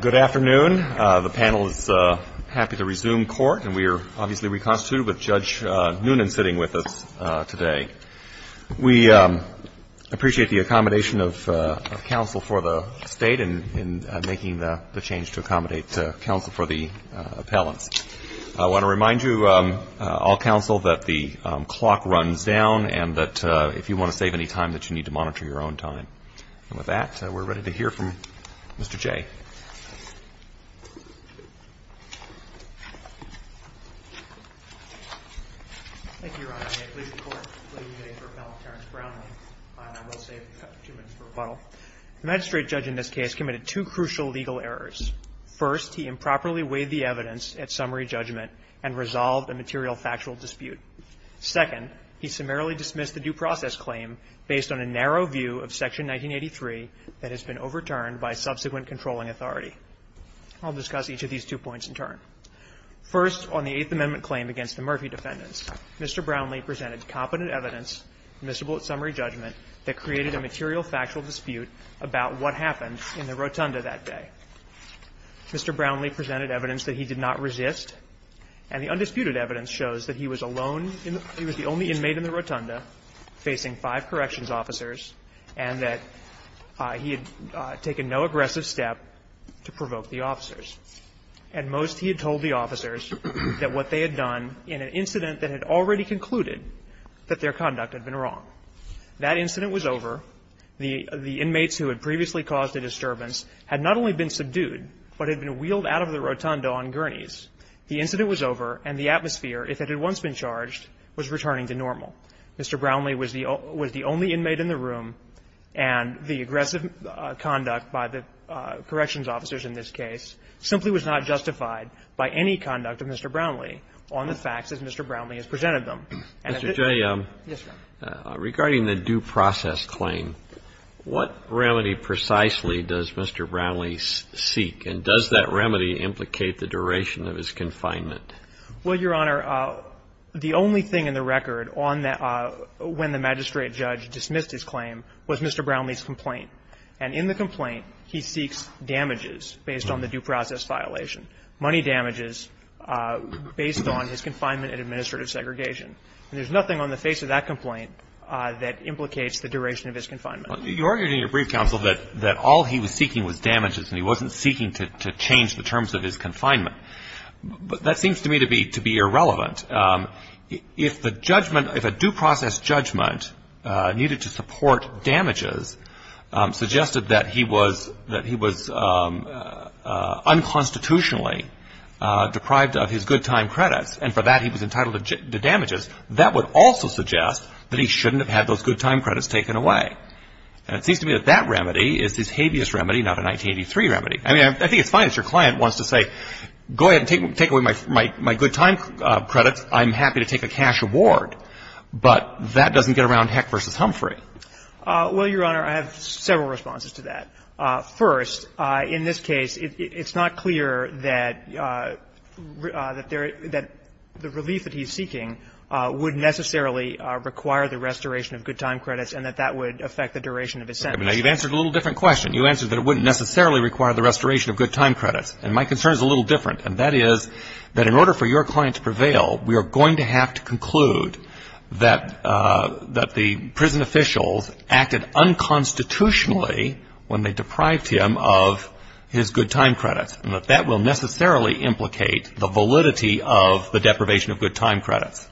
Good afternoon. The panel is happy to resume court and we are obviously reconstituted with Judge Noonan sitting with us today. We appreciate the accommodation of counsel for the State in making the change to accommodate counsel for the appellants. I want to remind you all counsel that the clock runs down and that if you want to save any time that you need to monitor your own time. And with that, we're ready to hear from Mr. Jay. Thank you, Your Honor. I'm here to please the Court to plead the case for Appellant Terrence Brownlee. I will save a few minutes for rebuttal. The magistrate judge in this case committed two crucial legal errors. First, he improperly weighed the evidence at summary judgment and resolved a material factual dispute. Second, he summarily dismissed the due process claim based on a narrow view of Section 1983 that has been overturned by subsequent controlling authority. I'll discuss each of these two points in turn. First, on the Eighth Amendment claim against the Murphy defendants, Mr. Brownlee presented competent evidence, admissible at summary judgment, that created a material factual dispute about what happened in the rotunda that day. Mr. Brownlee presented evidence that he did not resist, and the undisputed evidence shows that he was alone in the room. He was the only defendant facing five corrections officers, and that he had taken no aggressive step to provoke the officers. At most, he had told the officers that what they had done in an incident that had already concluded that their conduct had been wrong. That incident was over. The inmates who had previously caused the disturbance had not only been subdued, but had been wheeled out of the rotunda on gurneys. The incident was over, and the atmosphere, if it had once been charged, was returning to normal. Mr. Brownlee was the only inmate in the room, and the aggressive conduct by the corrections officers in this case simply was not justified by any conduct of Mr. Brownlee on the facts as Mr. Brownlee has presented them. And if it didn't do that, it would not have been the case that Mr. Brownlee was facing. Kennedy. Mr. Jay, regarding the due process claim, what remedy precisely does Mr. Brownlee seek, and does that remedy implicate the duration of his confinement? Well, Your Honor, the only thing in the record on that – when the magistrate judge dismissed his claim was Mr. Brownlee's complaint. And in the complaint, he seeks damages based on the due process violation, money damages based on his confinement and administrative segregation. And there's nothing on the face of that complaint that implicates the duration of his confinement. You argued in your brief, counsel, that all he was seeking was damages, and he wasn't seeking to change the terms of his confinement. That seems to me to be irrelevant. If the judgment – if a due process judgment needed to support damages suggested that he was unconstitutionally deprived of his good time credits, and for that he was entitled to damages, that would also suggest that he shouldn't have had those good time credits taken away. And it seems to me that that remedy is this habeas remedy, not a 1983 remedy. I mean, I think it's fine if your client wants to say, go ahead and take away my good time credits. I'm happy to take a cash award. But that doesn't get around Heck v. Humphrey. Well, Your Honor, I have several responses to that. First, in this case, it's not clear that the relief that he's seeking would necessarily require the restoration of good time credits and that that would affect the duration of his sentence. You've answered a little different question. You answered that it wouldn't necessarily require the restoration of good time credits. And my concern is a little different. And that is that in order for your client to prevail, we are going to have to conclude that the prison officials acted unconstitutionally when they deprived him of his good time credits, and that that will necessarily implicate the validity of the deprivation of good time credits.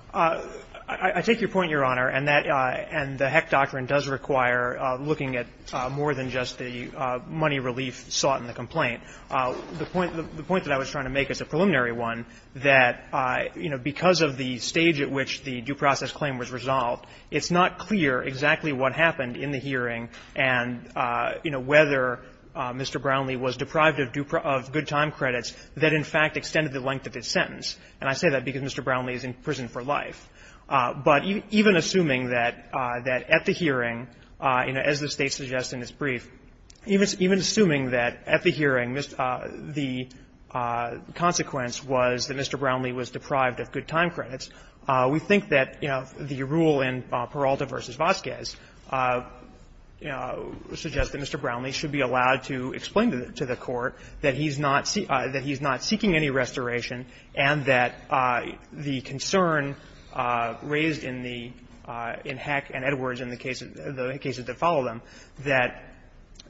I take your point, Your Honor. And that the Heck doctrine does require looking at more than just the money relief sought in the complaint. The point that I was trying to make is a preliminary one, that, you know, because of the stage at which the due process claim was resolved, it's not clear exactly what happened in the hearing and, you know, whether Mr. Brownlee was deprived of good time credits that in fact extended the length of his sentence. And I say that because Mr. Brownlee is in prison for life. But even assuming that at the hearing, you know, as the State suggests in its brief, even assuming that at the hearing the consequence was that Mr. Brownlee was deprived of good time credits, we think that, you know, the rule in Peralta v. Vasquez suggests that Mr. Brownlee should be allowed to explain to the court that he's not seeking any restoration and that the concern raised in the — in Heck and Edwards and the cases that follow them, that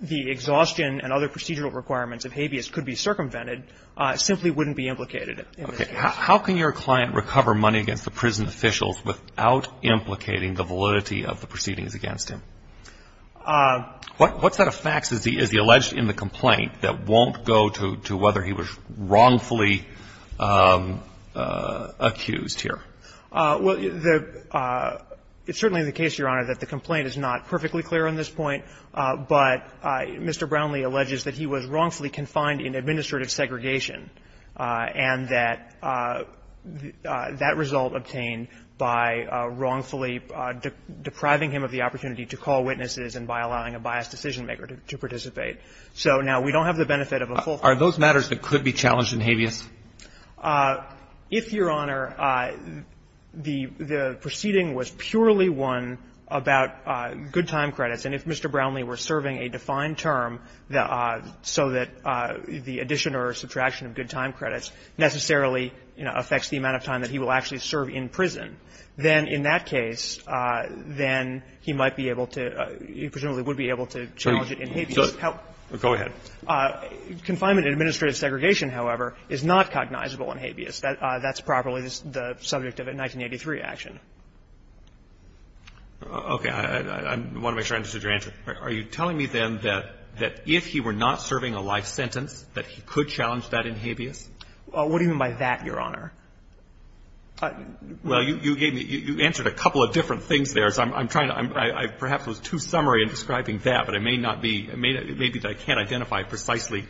the exhaustion and other procedural requirements of habeas could be circumvented simply wouldn't be implicated in this case. Okay. How can your client recover money against the prison officials without implicating the validity of the proceedings against him? What set of facts is he alleged in the complaint that won't go to whether he was wrongfully accused here? Well, the — it's certainly the case, Your Honor, that the complaint is not perfectly clear on this point, but Mr. Brownlee alleges that he was wrongfully confined in administrative segregation and that that result obtained by wrongfully depriving him of the opportunity to call witnesses and by allowing a biased decision-maker to participate. So now we don't have the benefit of a full — Are those matters that could be challenged in habeas? If, Your Honor, the proceeding was purely one about good-time credits, and if Mr. Brownlee were serving a defined term so that the addition or subtraction of good-time credits necessarily, you know, affects the amount of time that he will actually serve in prison, then in that case, then he might be able to — he presumably would be able to challenge it in habeas. Go ahead. Confinement in administrative segregation, however, is not cognizable in habeas. That's properly the subject of a 1983 action. Okay. I want to make sure I understood your answer. Are you telling me, then, that if he were not serving a life sentence, that he could challenge that in habeas? What do you mean by that, Your Honor? Well, you gave me — you answered a couple of different things there, so I'm trying to — I perhaps was too summary in describing that, but I may not be — maybe I can't identify precisely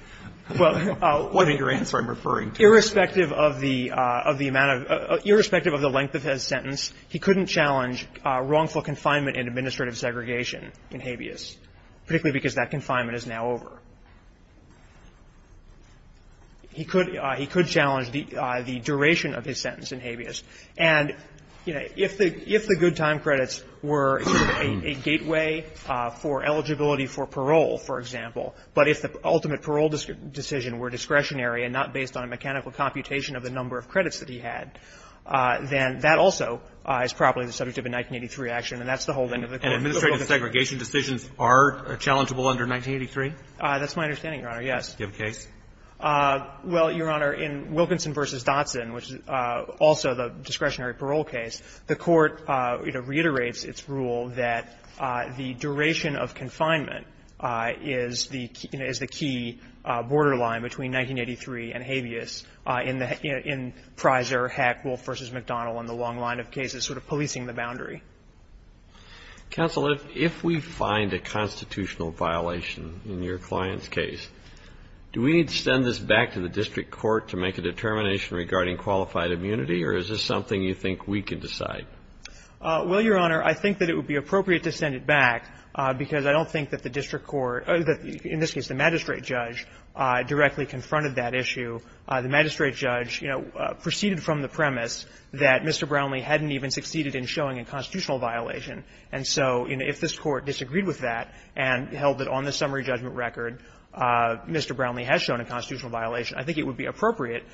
what in your answer I'm referring to. Irrespective of the amount of — irrespective of the length of his sentence, he couldn't challenge wrongful confinement in administrative segregation in habeas, particularly because that confinement is now over. He could — he could challenge the duration of his sentence in habeas. And, you know, if the — if the good time credits were a gateway for eligibility for parole, for example, but if the ultimate parole decision were discretionary and not based on a mechanical computation of the number of credits that he had, then that also is probably the subject of a 1983 action, and that's the whole thing of the court. And administrative segregation decisions are challengeable under 1983? That's my understanding, Your Honor, yes. Do you have a case? Well, Your Honor, in Wilkinson v. Dotson, which is also the discretionary parole case, the Court, you know, reiterates its rule that the duration of confinement is the — you know, is the key borderline between 1983 and habeas in the — in Pryser, Hack, Wolfe v. McDonnell and the long line of cases sort of policing the boundary. Counsel, if — if we find a constitutional violation in your client's case, do we need to send this back to the district court to make a determination regarding qualified immunity, or is this something you think we can decide? Well, Your Honor, I think that it would be appropriate to send it back because I don't think that the district court — in this case, the magistrate judge directly confronted that issue. The magistrate judge, you know, proceeded from the premise that Mr. Brownlee hadn't even succeeded in showing a constitutional violation, and so, you know, if this court disagreed with that and held it on the summary judgment record, Mr. Brownlee has shown a constitutional violation. I think it would be appropriate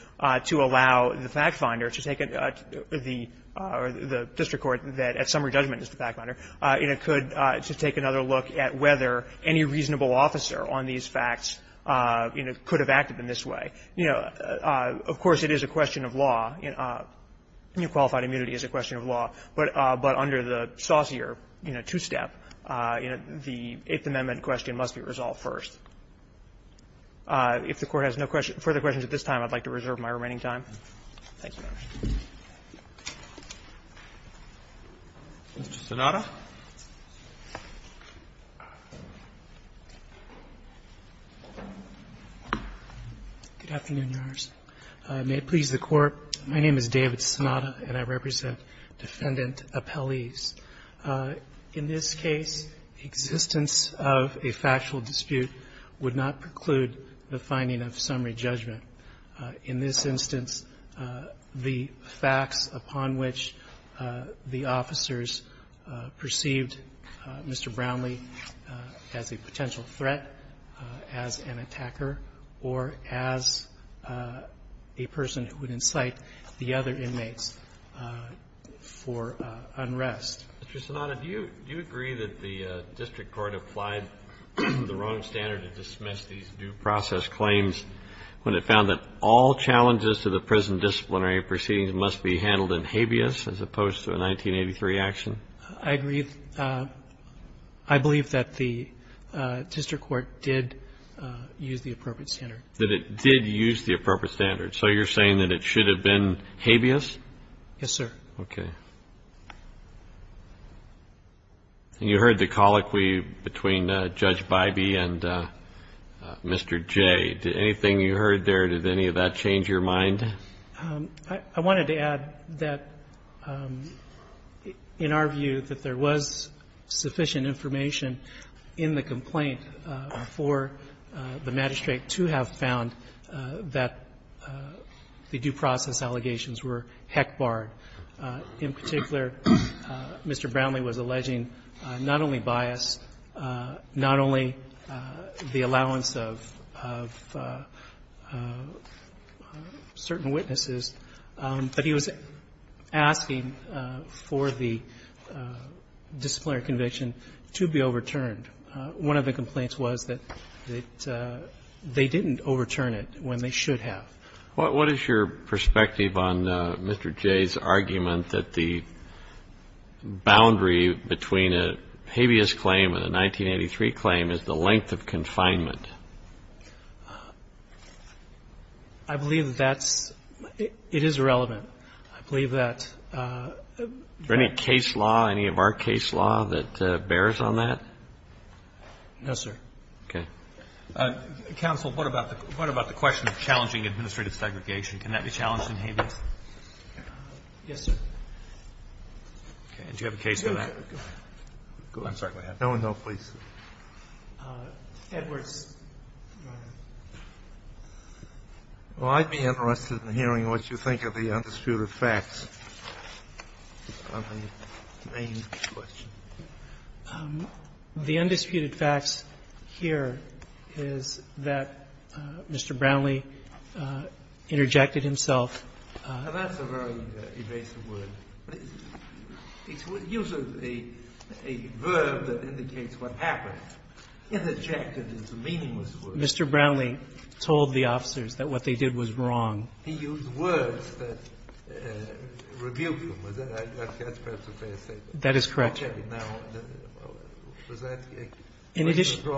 to allow the fact finder to take the — or the district court that, at summary judgment, is the fact finder, you know, could — to take another look at whether any reasonable officer on these facts, you know, could have acted in this way. You know, of course, it is a question of law. You know, qualified immunity is a question of law, but under the saucier, you know, two-step, you know, the Eighth Amendment question must be resolved first. If the Court has no further questions at this time, I'd like to reserve my remaining time. Thank you. Roberts. Mr. Sonata. Good afternoon, Your Honors. May it please the Court, my name is David Sonata, and I represent Defendant Appellees. In this case, existence of a factual dispute would not preclude the finding of summary judgment. In this instance, the facts upon which the officers perceived Mr. Brownlee as a potential threat, as an attacker, or as a person who would incite the other inmates for unrest Mr. Sonata, do you agree that the district court applied the wrong standard to dismiss these due process claims when it found that all challenges to the present disciplinary proceedings must be handled in habeas as opposed to a 1983 action? I agree. I believe that the district court did use the appropriate standard. That it did use the appropriate standard. So you're saying that it should have been habeas? Yes, sir. Okay. And you heard the colloquy between Judge Bybee and Mr. Jay. Anything you heard there, did any of that change your mind? I wanted to add that in our view, that there was sufficient information in the complaint for the magistrate to have found that the due process allegations were heck barred, in particular, Mr. Brownlee was alleging not only bias, not only the allowance of certain witnesses, but he was asking for the disciplinary conviction to be overturned. One of the complaints was that they didn't overturn it when they should have. What is your perspective on Mr. Jay's argument that the boundary between a habeas claim and a 1983 claim is the length of confinement? I believe that's – it is irrelevant. I believe that – Is there any case law, any of our case law that bears on that? No, sir. Okay. Counsel, what about the question of challenging administrative segregation? Can that be challenged in habeas? Yes, sir. Okay. And do you have a case for that? Go ahead. I'm sorry. Go ahead. No, no, please. Edwards, Your Honor. Well, I'd be interested in hearing what you think of the undisputed facts on the main question. The undisputed facts here is that Mr. Brownlee interjected himself. That's a very evasive word. It's usually a verb that indicates what happened. Interjected is a meaningless word. Mr. Brownlee told the officers that what they did was wrong. He used words that rebuked him. That's perhaps a fair statement. That is correct. In addition, Your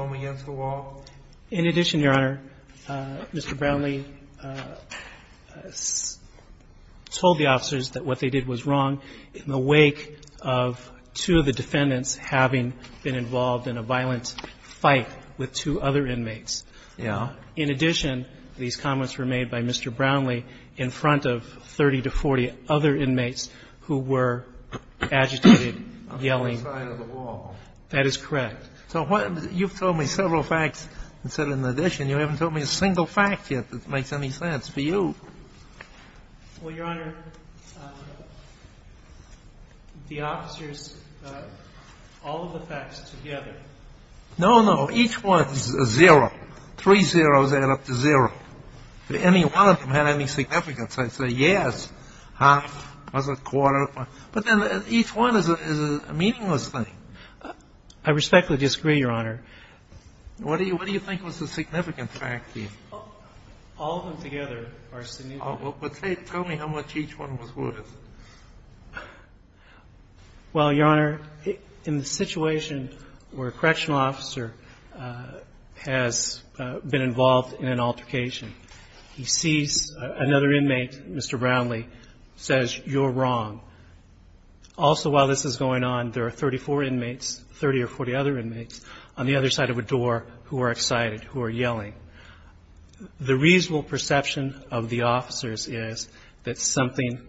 Honor, Mr. Brownlee told the officers that what they did was wrong in the wake of two of the defendants having been involved in a violent fight with two other inmates. Yeah. In addition, these comments were made by Mr. Brownlee in front of 30 to 40 other inmates who were agitated, yelling. On the other side of the wall. That is correct. So what you've told me several facts, and said in addition, you haven't told me a single fact yet that makes any sense for you. Well, Your Honor, the officers, all of the facts together. No, no. Each one is a zero. Three zeros add up to zero. If any one of them had any significance, I'd say yes, half, was it a quarter? But then each one is a meaningless thing. I respectfully disagree, Your Honor. What do you think was the significant fact to you? All of them together are significant. Tell me how much each one was worth. Well, Your Honor, in the situation where a correctional officer has been involved in an altercation, he sees another inmate, Mr. Brownlee, says you're wrong. Also, while this is going on, there are 34 inmates, 30 or 40 other inmates, on the other side of a door who are excited, who are yelling. The reasonable perception of the officers is that something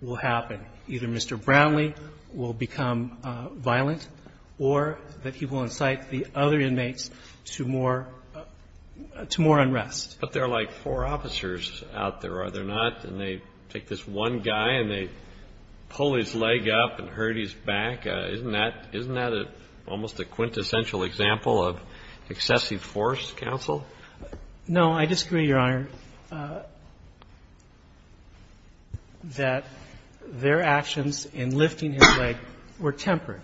will happen. Either Mr. Brownlee will become violent or that he will incite the other inmates to more unrest. But there are like four officers out there, are there not? And they take this one guy and they pull his leg up and hurt his back. Isn't that almost a quintessential example of excessive force, counsel? No, I disagree, Your Honor, that their actions in lifting his leg were tempered.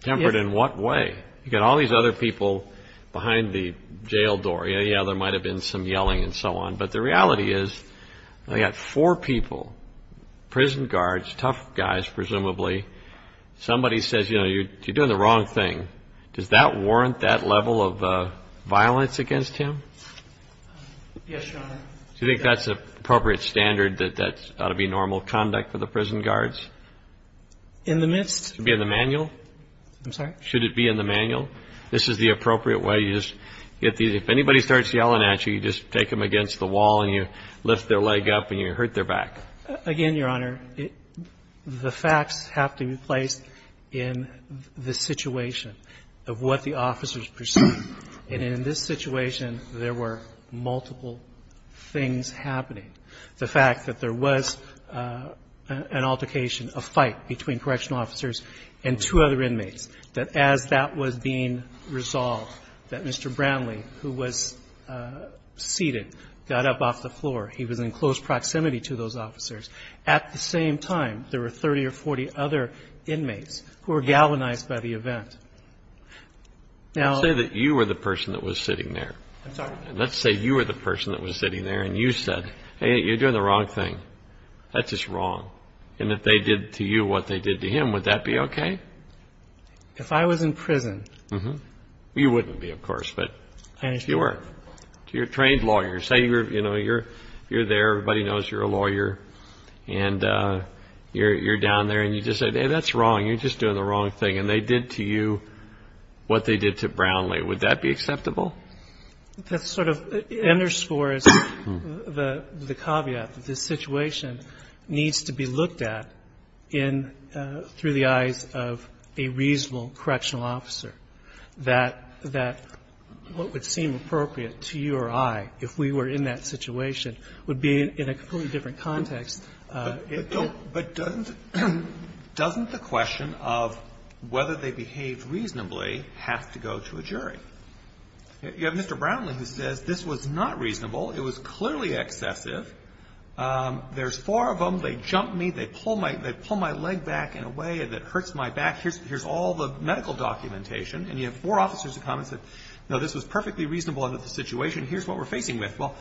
Tempered in what way? You've got all these other people behind the jail door. Yeah, yeah, there might have been some yelling and so on. But the reality is they've got four people, prison guards, tough guys, presumably. Somebody says, you know, you're doing the wrong thing. Does that warrant that level of violence against him? Yes, Your Honor. Do you think that's an appropriate standard that that ought to be normal conduct for the prison guards? In the midst of the manual, I'm sorry, should it be in the manual? This is the appropriate way you just get these. If anybody starts yelling at you, you just take them against the wall and you lift their leg up and you hurt their back. Again, Your Honor, the facts have to be placed in the situation. And I think that's a good point, Your Honor, because I think it's a good point to make in the context of the situation of what the officers perceived. And in this situation, there were multiple things happening. The fact that there was an altercation, a fight between correctional officers and two other inmates, that as that was being resolved, that Mr. Bramley, who was seated, got up off the floor. He was in close proximity to those officers. At the same time, there were 30 or 40 other inmates who were galvanized by the event. Now, let's say that you were the person that was sitting there. Let's say you were the person that was sitting there and you said, hey, you're doing the wrong thing. That's just wrong. And if they did to you what they did to him, would that be OK? If I was in prison. You wouldn't be, of course, but if you were. You're a trained lawyer. Say you're there. Everybody knows you're a lawyer. And you're down there and you just say, hey, that's wrong. You're just doing the wrong thing. And they did to you what they did to Bramley. Would that be acceptable? That sort of underscores the caveat that this situation needs to be looked at in the eyes of a reasonable correctional officer. That what would seem appropriate to you or I, if we were in that situation, would be in a completely different context. But doesn't the question of whether they behaved reasonably have to go to a jury? You have Mr. Bramley who says this was not reasonable. It was clearly excessive. There's four of them. They jump me. They pull my leg back in a way that hurts my back. Here's all the medical documentation. And you have four officers that come and say, no, this was perfectly reasonable under the situation. Here's what we're facing with. Well,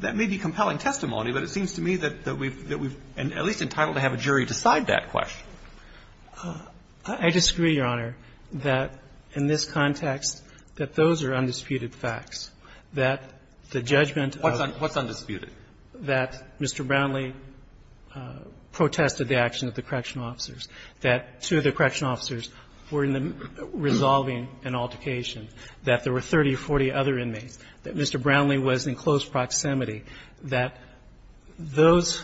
that may be compelling testimony, but it seems to me that we've at least entitled to have a jury decide that question. I disagree, Your Honor, that in this context, that those are undisputed facts. That the judgment of the court. What's undisputed? That Mr. Bramley protested the action of the correctional officers. That two of the correctional officers were resolving an altercation. That there were 30 or 40 other inmates. That Mr. Bramley was in close proximity. That those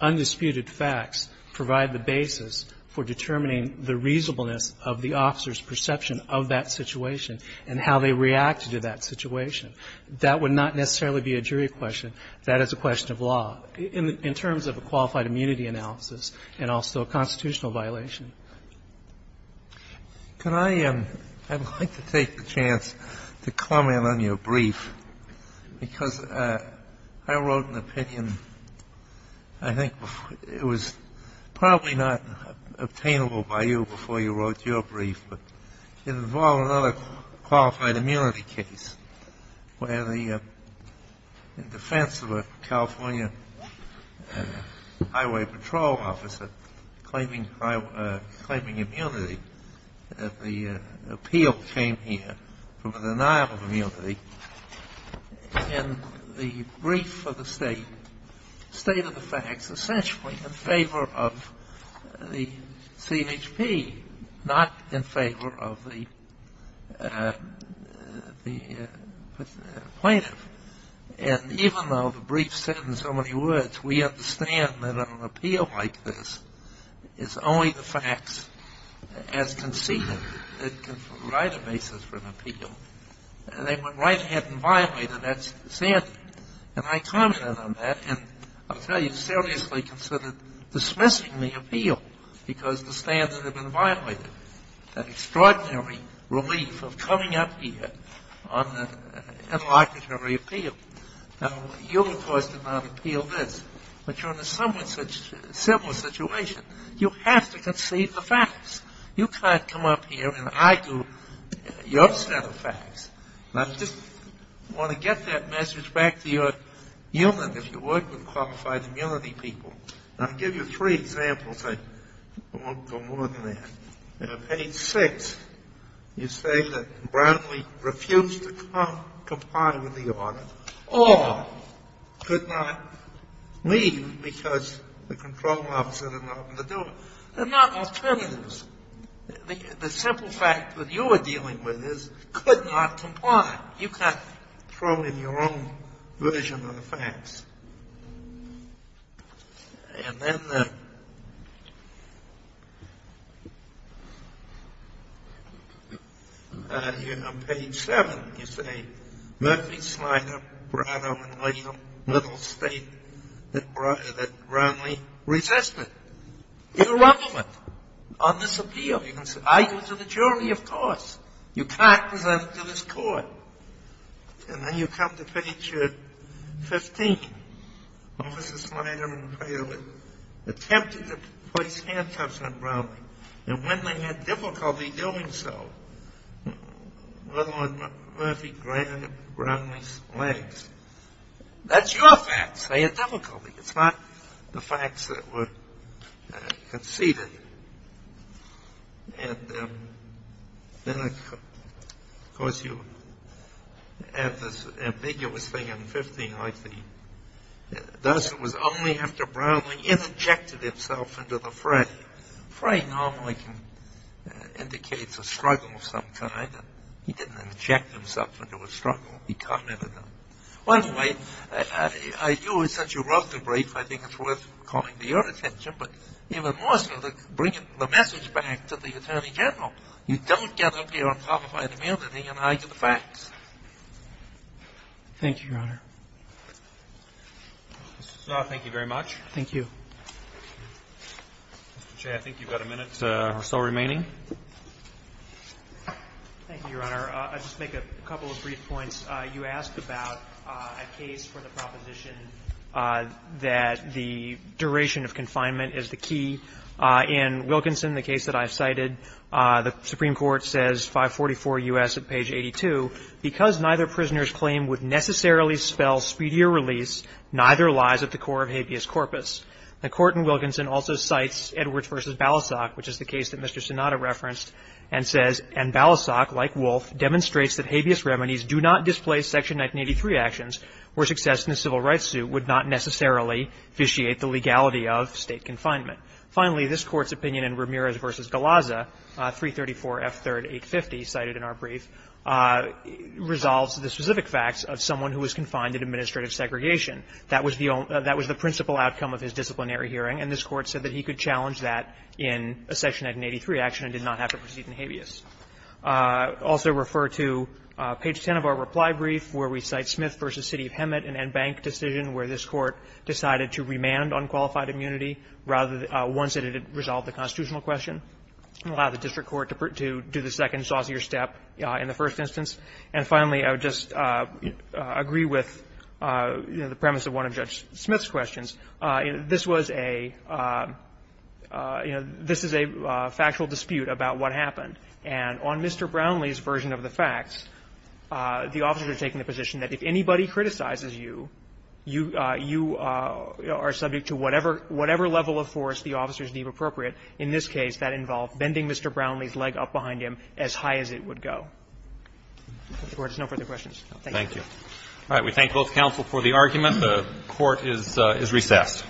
undisputed facts provide the basis for determining the reasonableness of the officer's perception of that situation and how they reacted to that situation. That would not necessarily be a jury question. That is a question of law in terms of a qualified immunity analysis and also a constitutional violation. Can I, I'd like to take the chance to comment on your brief. Because I wrote an opinion. I think it was probably not obtainable by you before you wrote your brief. But it involved another qualified immunity case. Where the defense of a California highway patrol officer claiming immunity, the appeal came here from a denial of immunity. And the brief for the state stated the facts essentially in favor of the CNHP, not in favor of the plaintiff. And even though the brief said in so many words, we understand that an appeal like this is only the facts as conceded. It can provide a basis for an appeal. And they went right ahead and violated that standard. And I commented on that and I'll tell you seriously considered dismissing the appeal because the standard had been violated. That extraordinary relief of coming up here on an interlocutory appeal. You, of course, did not appeal this. But you're in a somewhat similar situation. You have to concede the facts. You can't come up here and I do your set of facts. And I just want to get that message back to your unit, if you would, with qualified immunity people. And I'll give you three examples. I won't go more than that. On page 6, you say that Brownlee refused to comply with the order or could not leave because the control officer did not want to do it. They're not alternatives. The simple fact that you are dealing with is could not comply. You can't throw in your own version of the facts. And then on page 7, you say Murphy, Slider, Brownlee, Little, State, that Brownlee resisted. You're a government on this appeal. You can argue to the jury, of course. You can't present it to this court. And then you come to page 15. Officer Slider and Slider attempted to place handcuffs on Brownlee. And when they had difficulty doing so, Little and Murphy grabbed Brownlee's legs. That's your facts. They had difficulty. It's not the facts that were conceded. And then, of course, you have this ambiguous thing on 15. It was only after Brownlee interjected himself into the frame. Frame normally indicates a struggle of some kind. He didn't inject himself into a struggle. He commented on it. By the way, since you wrote the brief, I think it's worth calling to your attention. But even more so, to bring the message back to the Attorney General. You don't get up here on top of an amnesty and argue the facts. Thank you, Your Honor. Mr. Snow, thank you very much. Thank you. Mr. Shea, I think you've got a minute or so remaining. Thank you, Your Honor. I'll just make a couple of brief points. You asked about a case for the proposition that the duration of confinement is the key. In Wilkinson, the case that I've cited, the Supreme Court says 544 U.S. at page 82, because neither prisoner's claim would necessarily spell speedier release, neither lies at the core of habeas corpus. The court in Wilkinson also cites Edwards v. Balasag, which is the case that Mr. Sonata referenced, and says, And Balasag, like Wolf, demonstrates that habeas remedies do not displace Section 1983 actions where success in a civil rights suit would not necessarily vitiate the legality of State confinement. Finally, this Court's opinion in Ramirez v. Galazza, 334 F. 3rd. 850, cited in our brief, resolves the specific facts of someone who was confined in administrative segregation. That was the principal outcome of his disciplinary hearing, and this Court said that he could challenge that in a Section 1983 action and did not have to proceed in habeas. I also refer to page 10 of our reply brief, where we cite Smith v. City of Hemet, an en banc decision where this Court decided to remand unqualified immunity, rather than once it had resolved the constitutional question, and allow the district court to do the second, saucier step in the first instance. And finally, I would just agree with the premise of one of Judge Smith's questions. This was a – you know, this is a factual dispute about what happened. And on Mr. Brownlee's version of the facts, the officers are taking the position that if anybody criticizes you, you are subject to whatever level of force the officers deem appropriate. In this case, that involved bending Mr. Brownlee's leg up behind him as high as it would go. If there's no further questions, thank you. All right. We thank both counsel for the argument. The Court is recessed.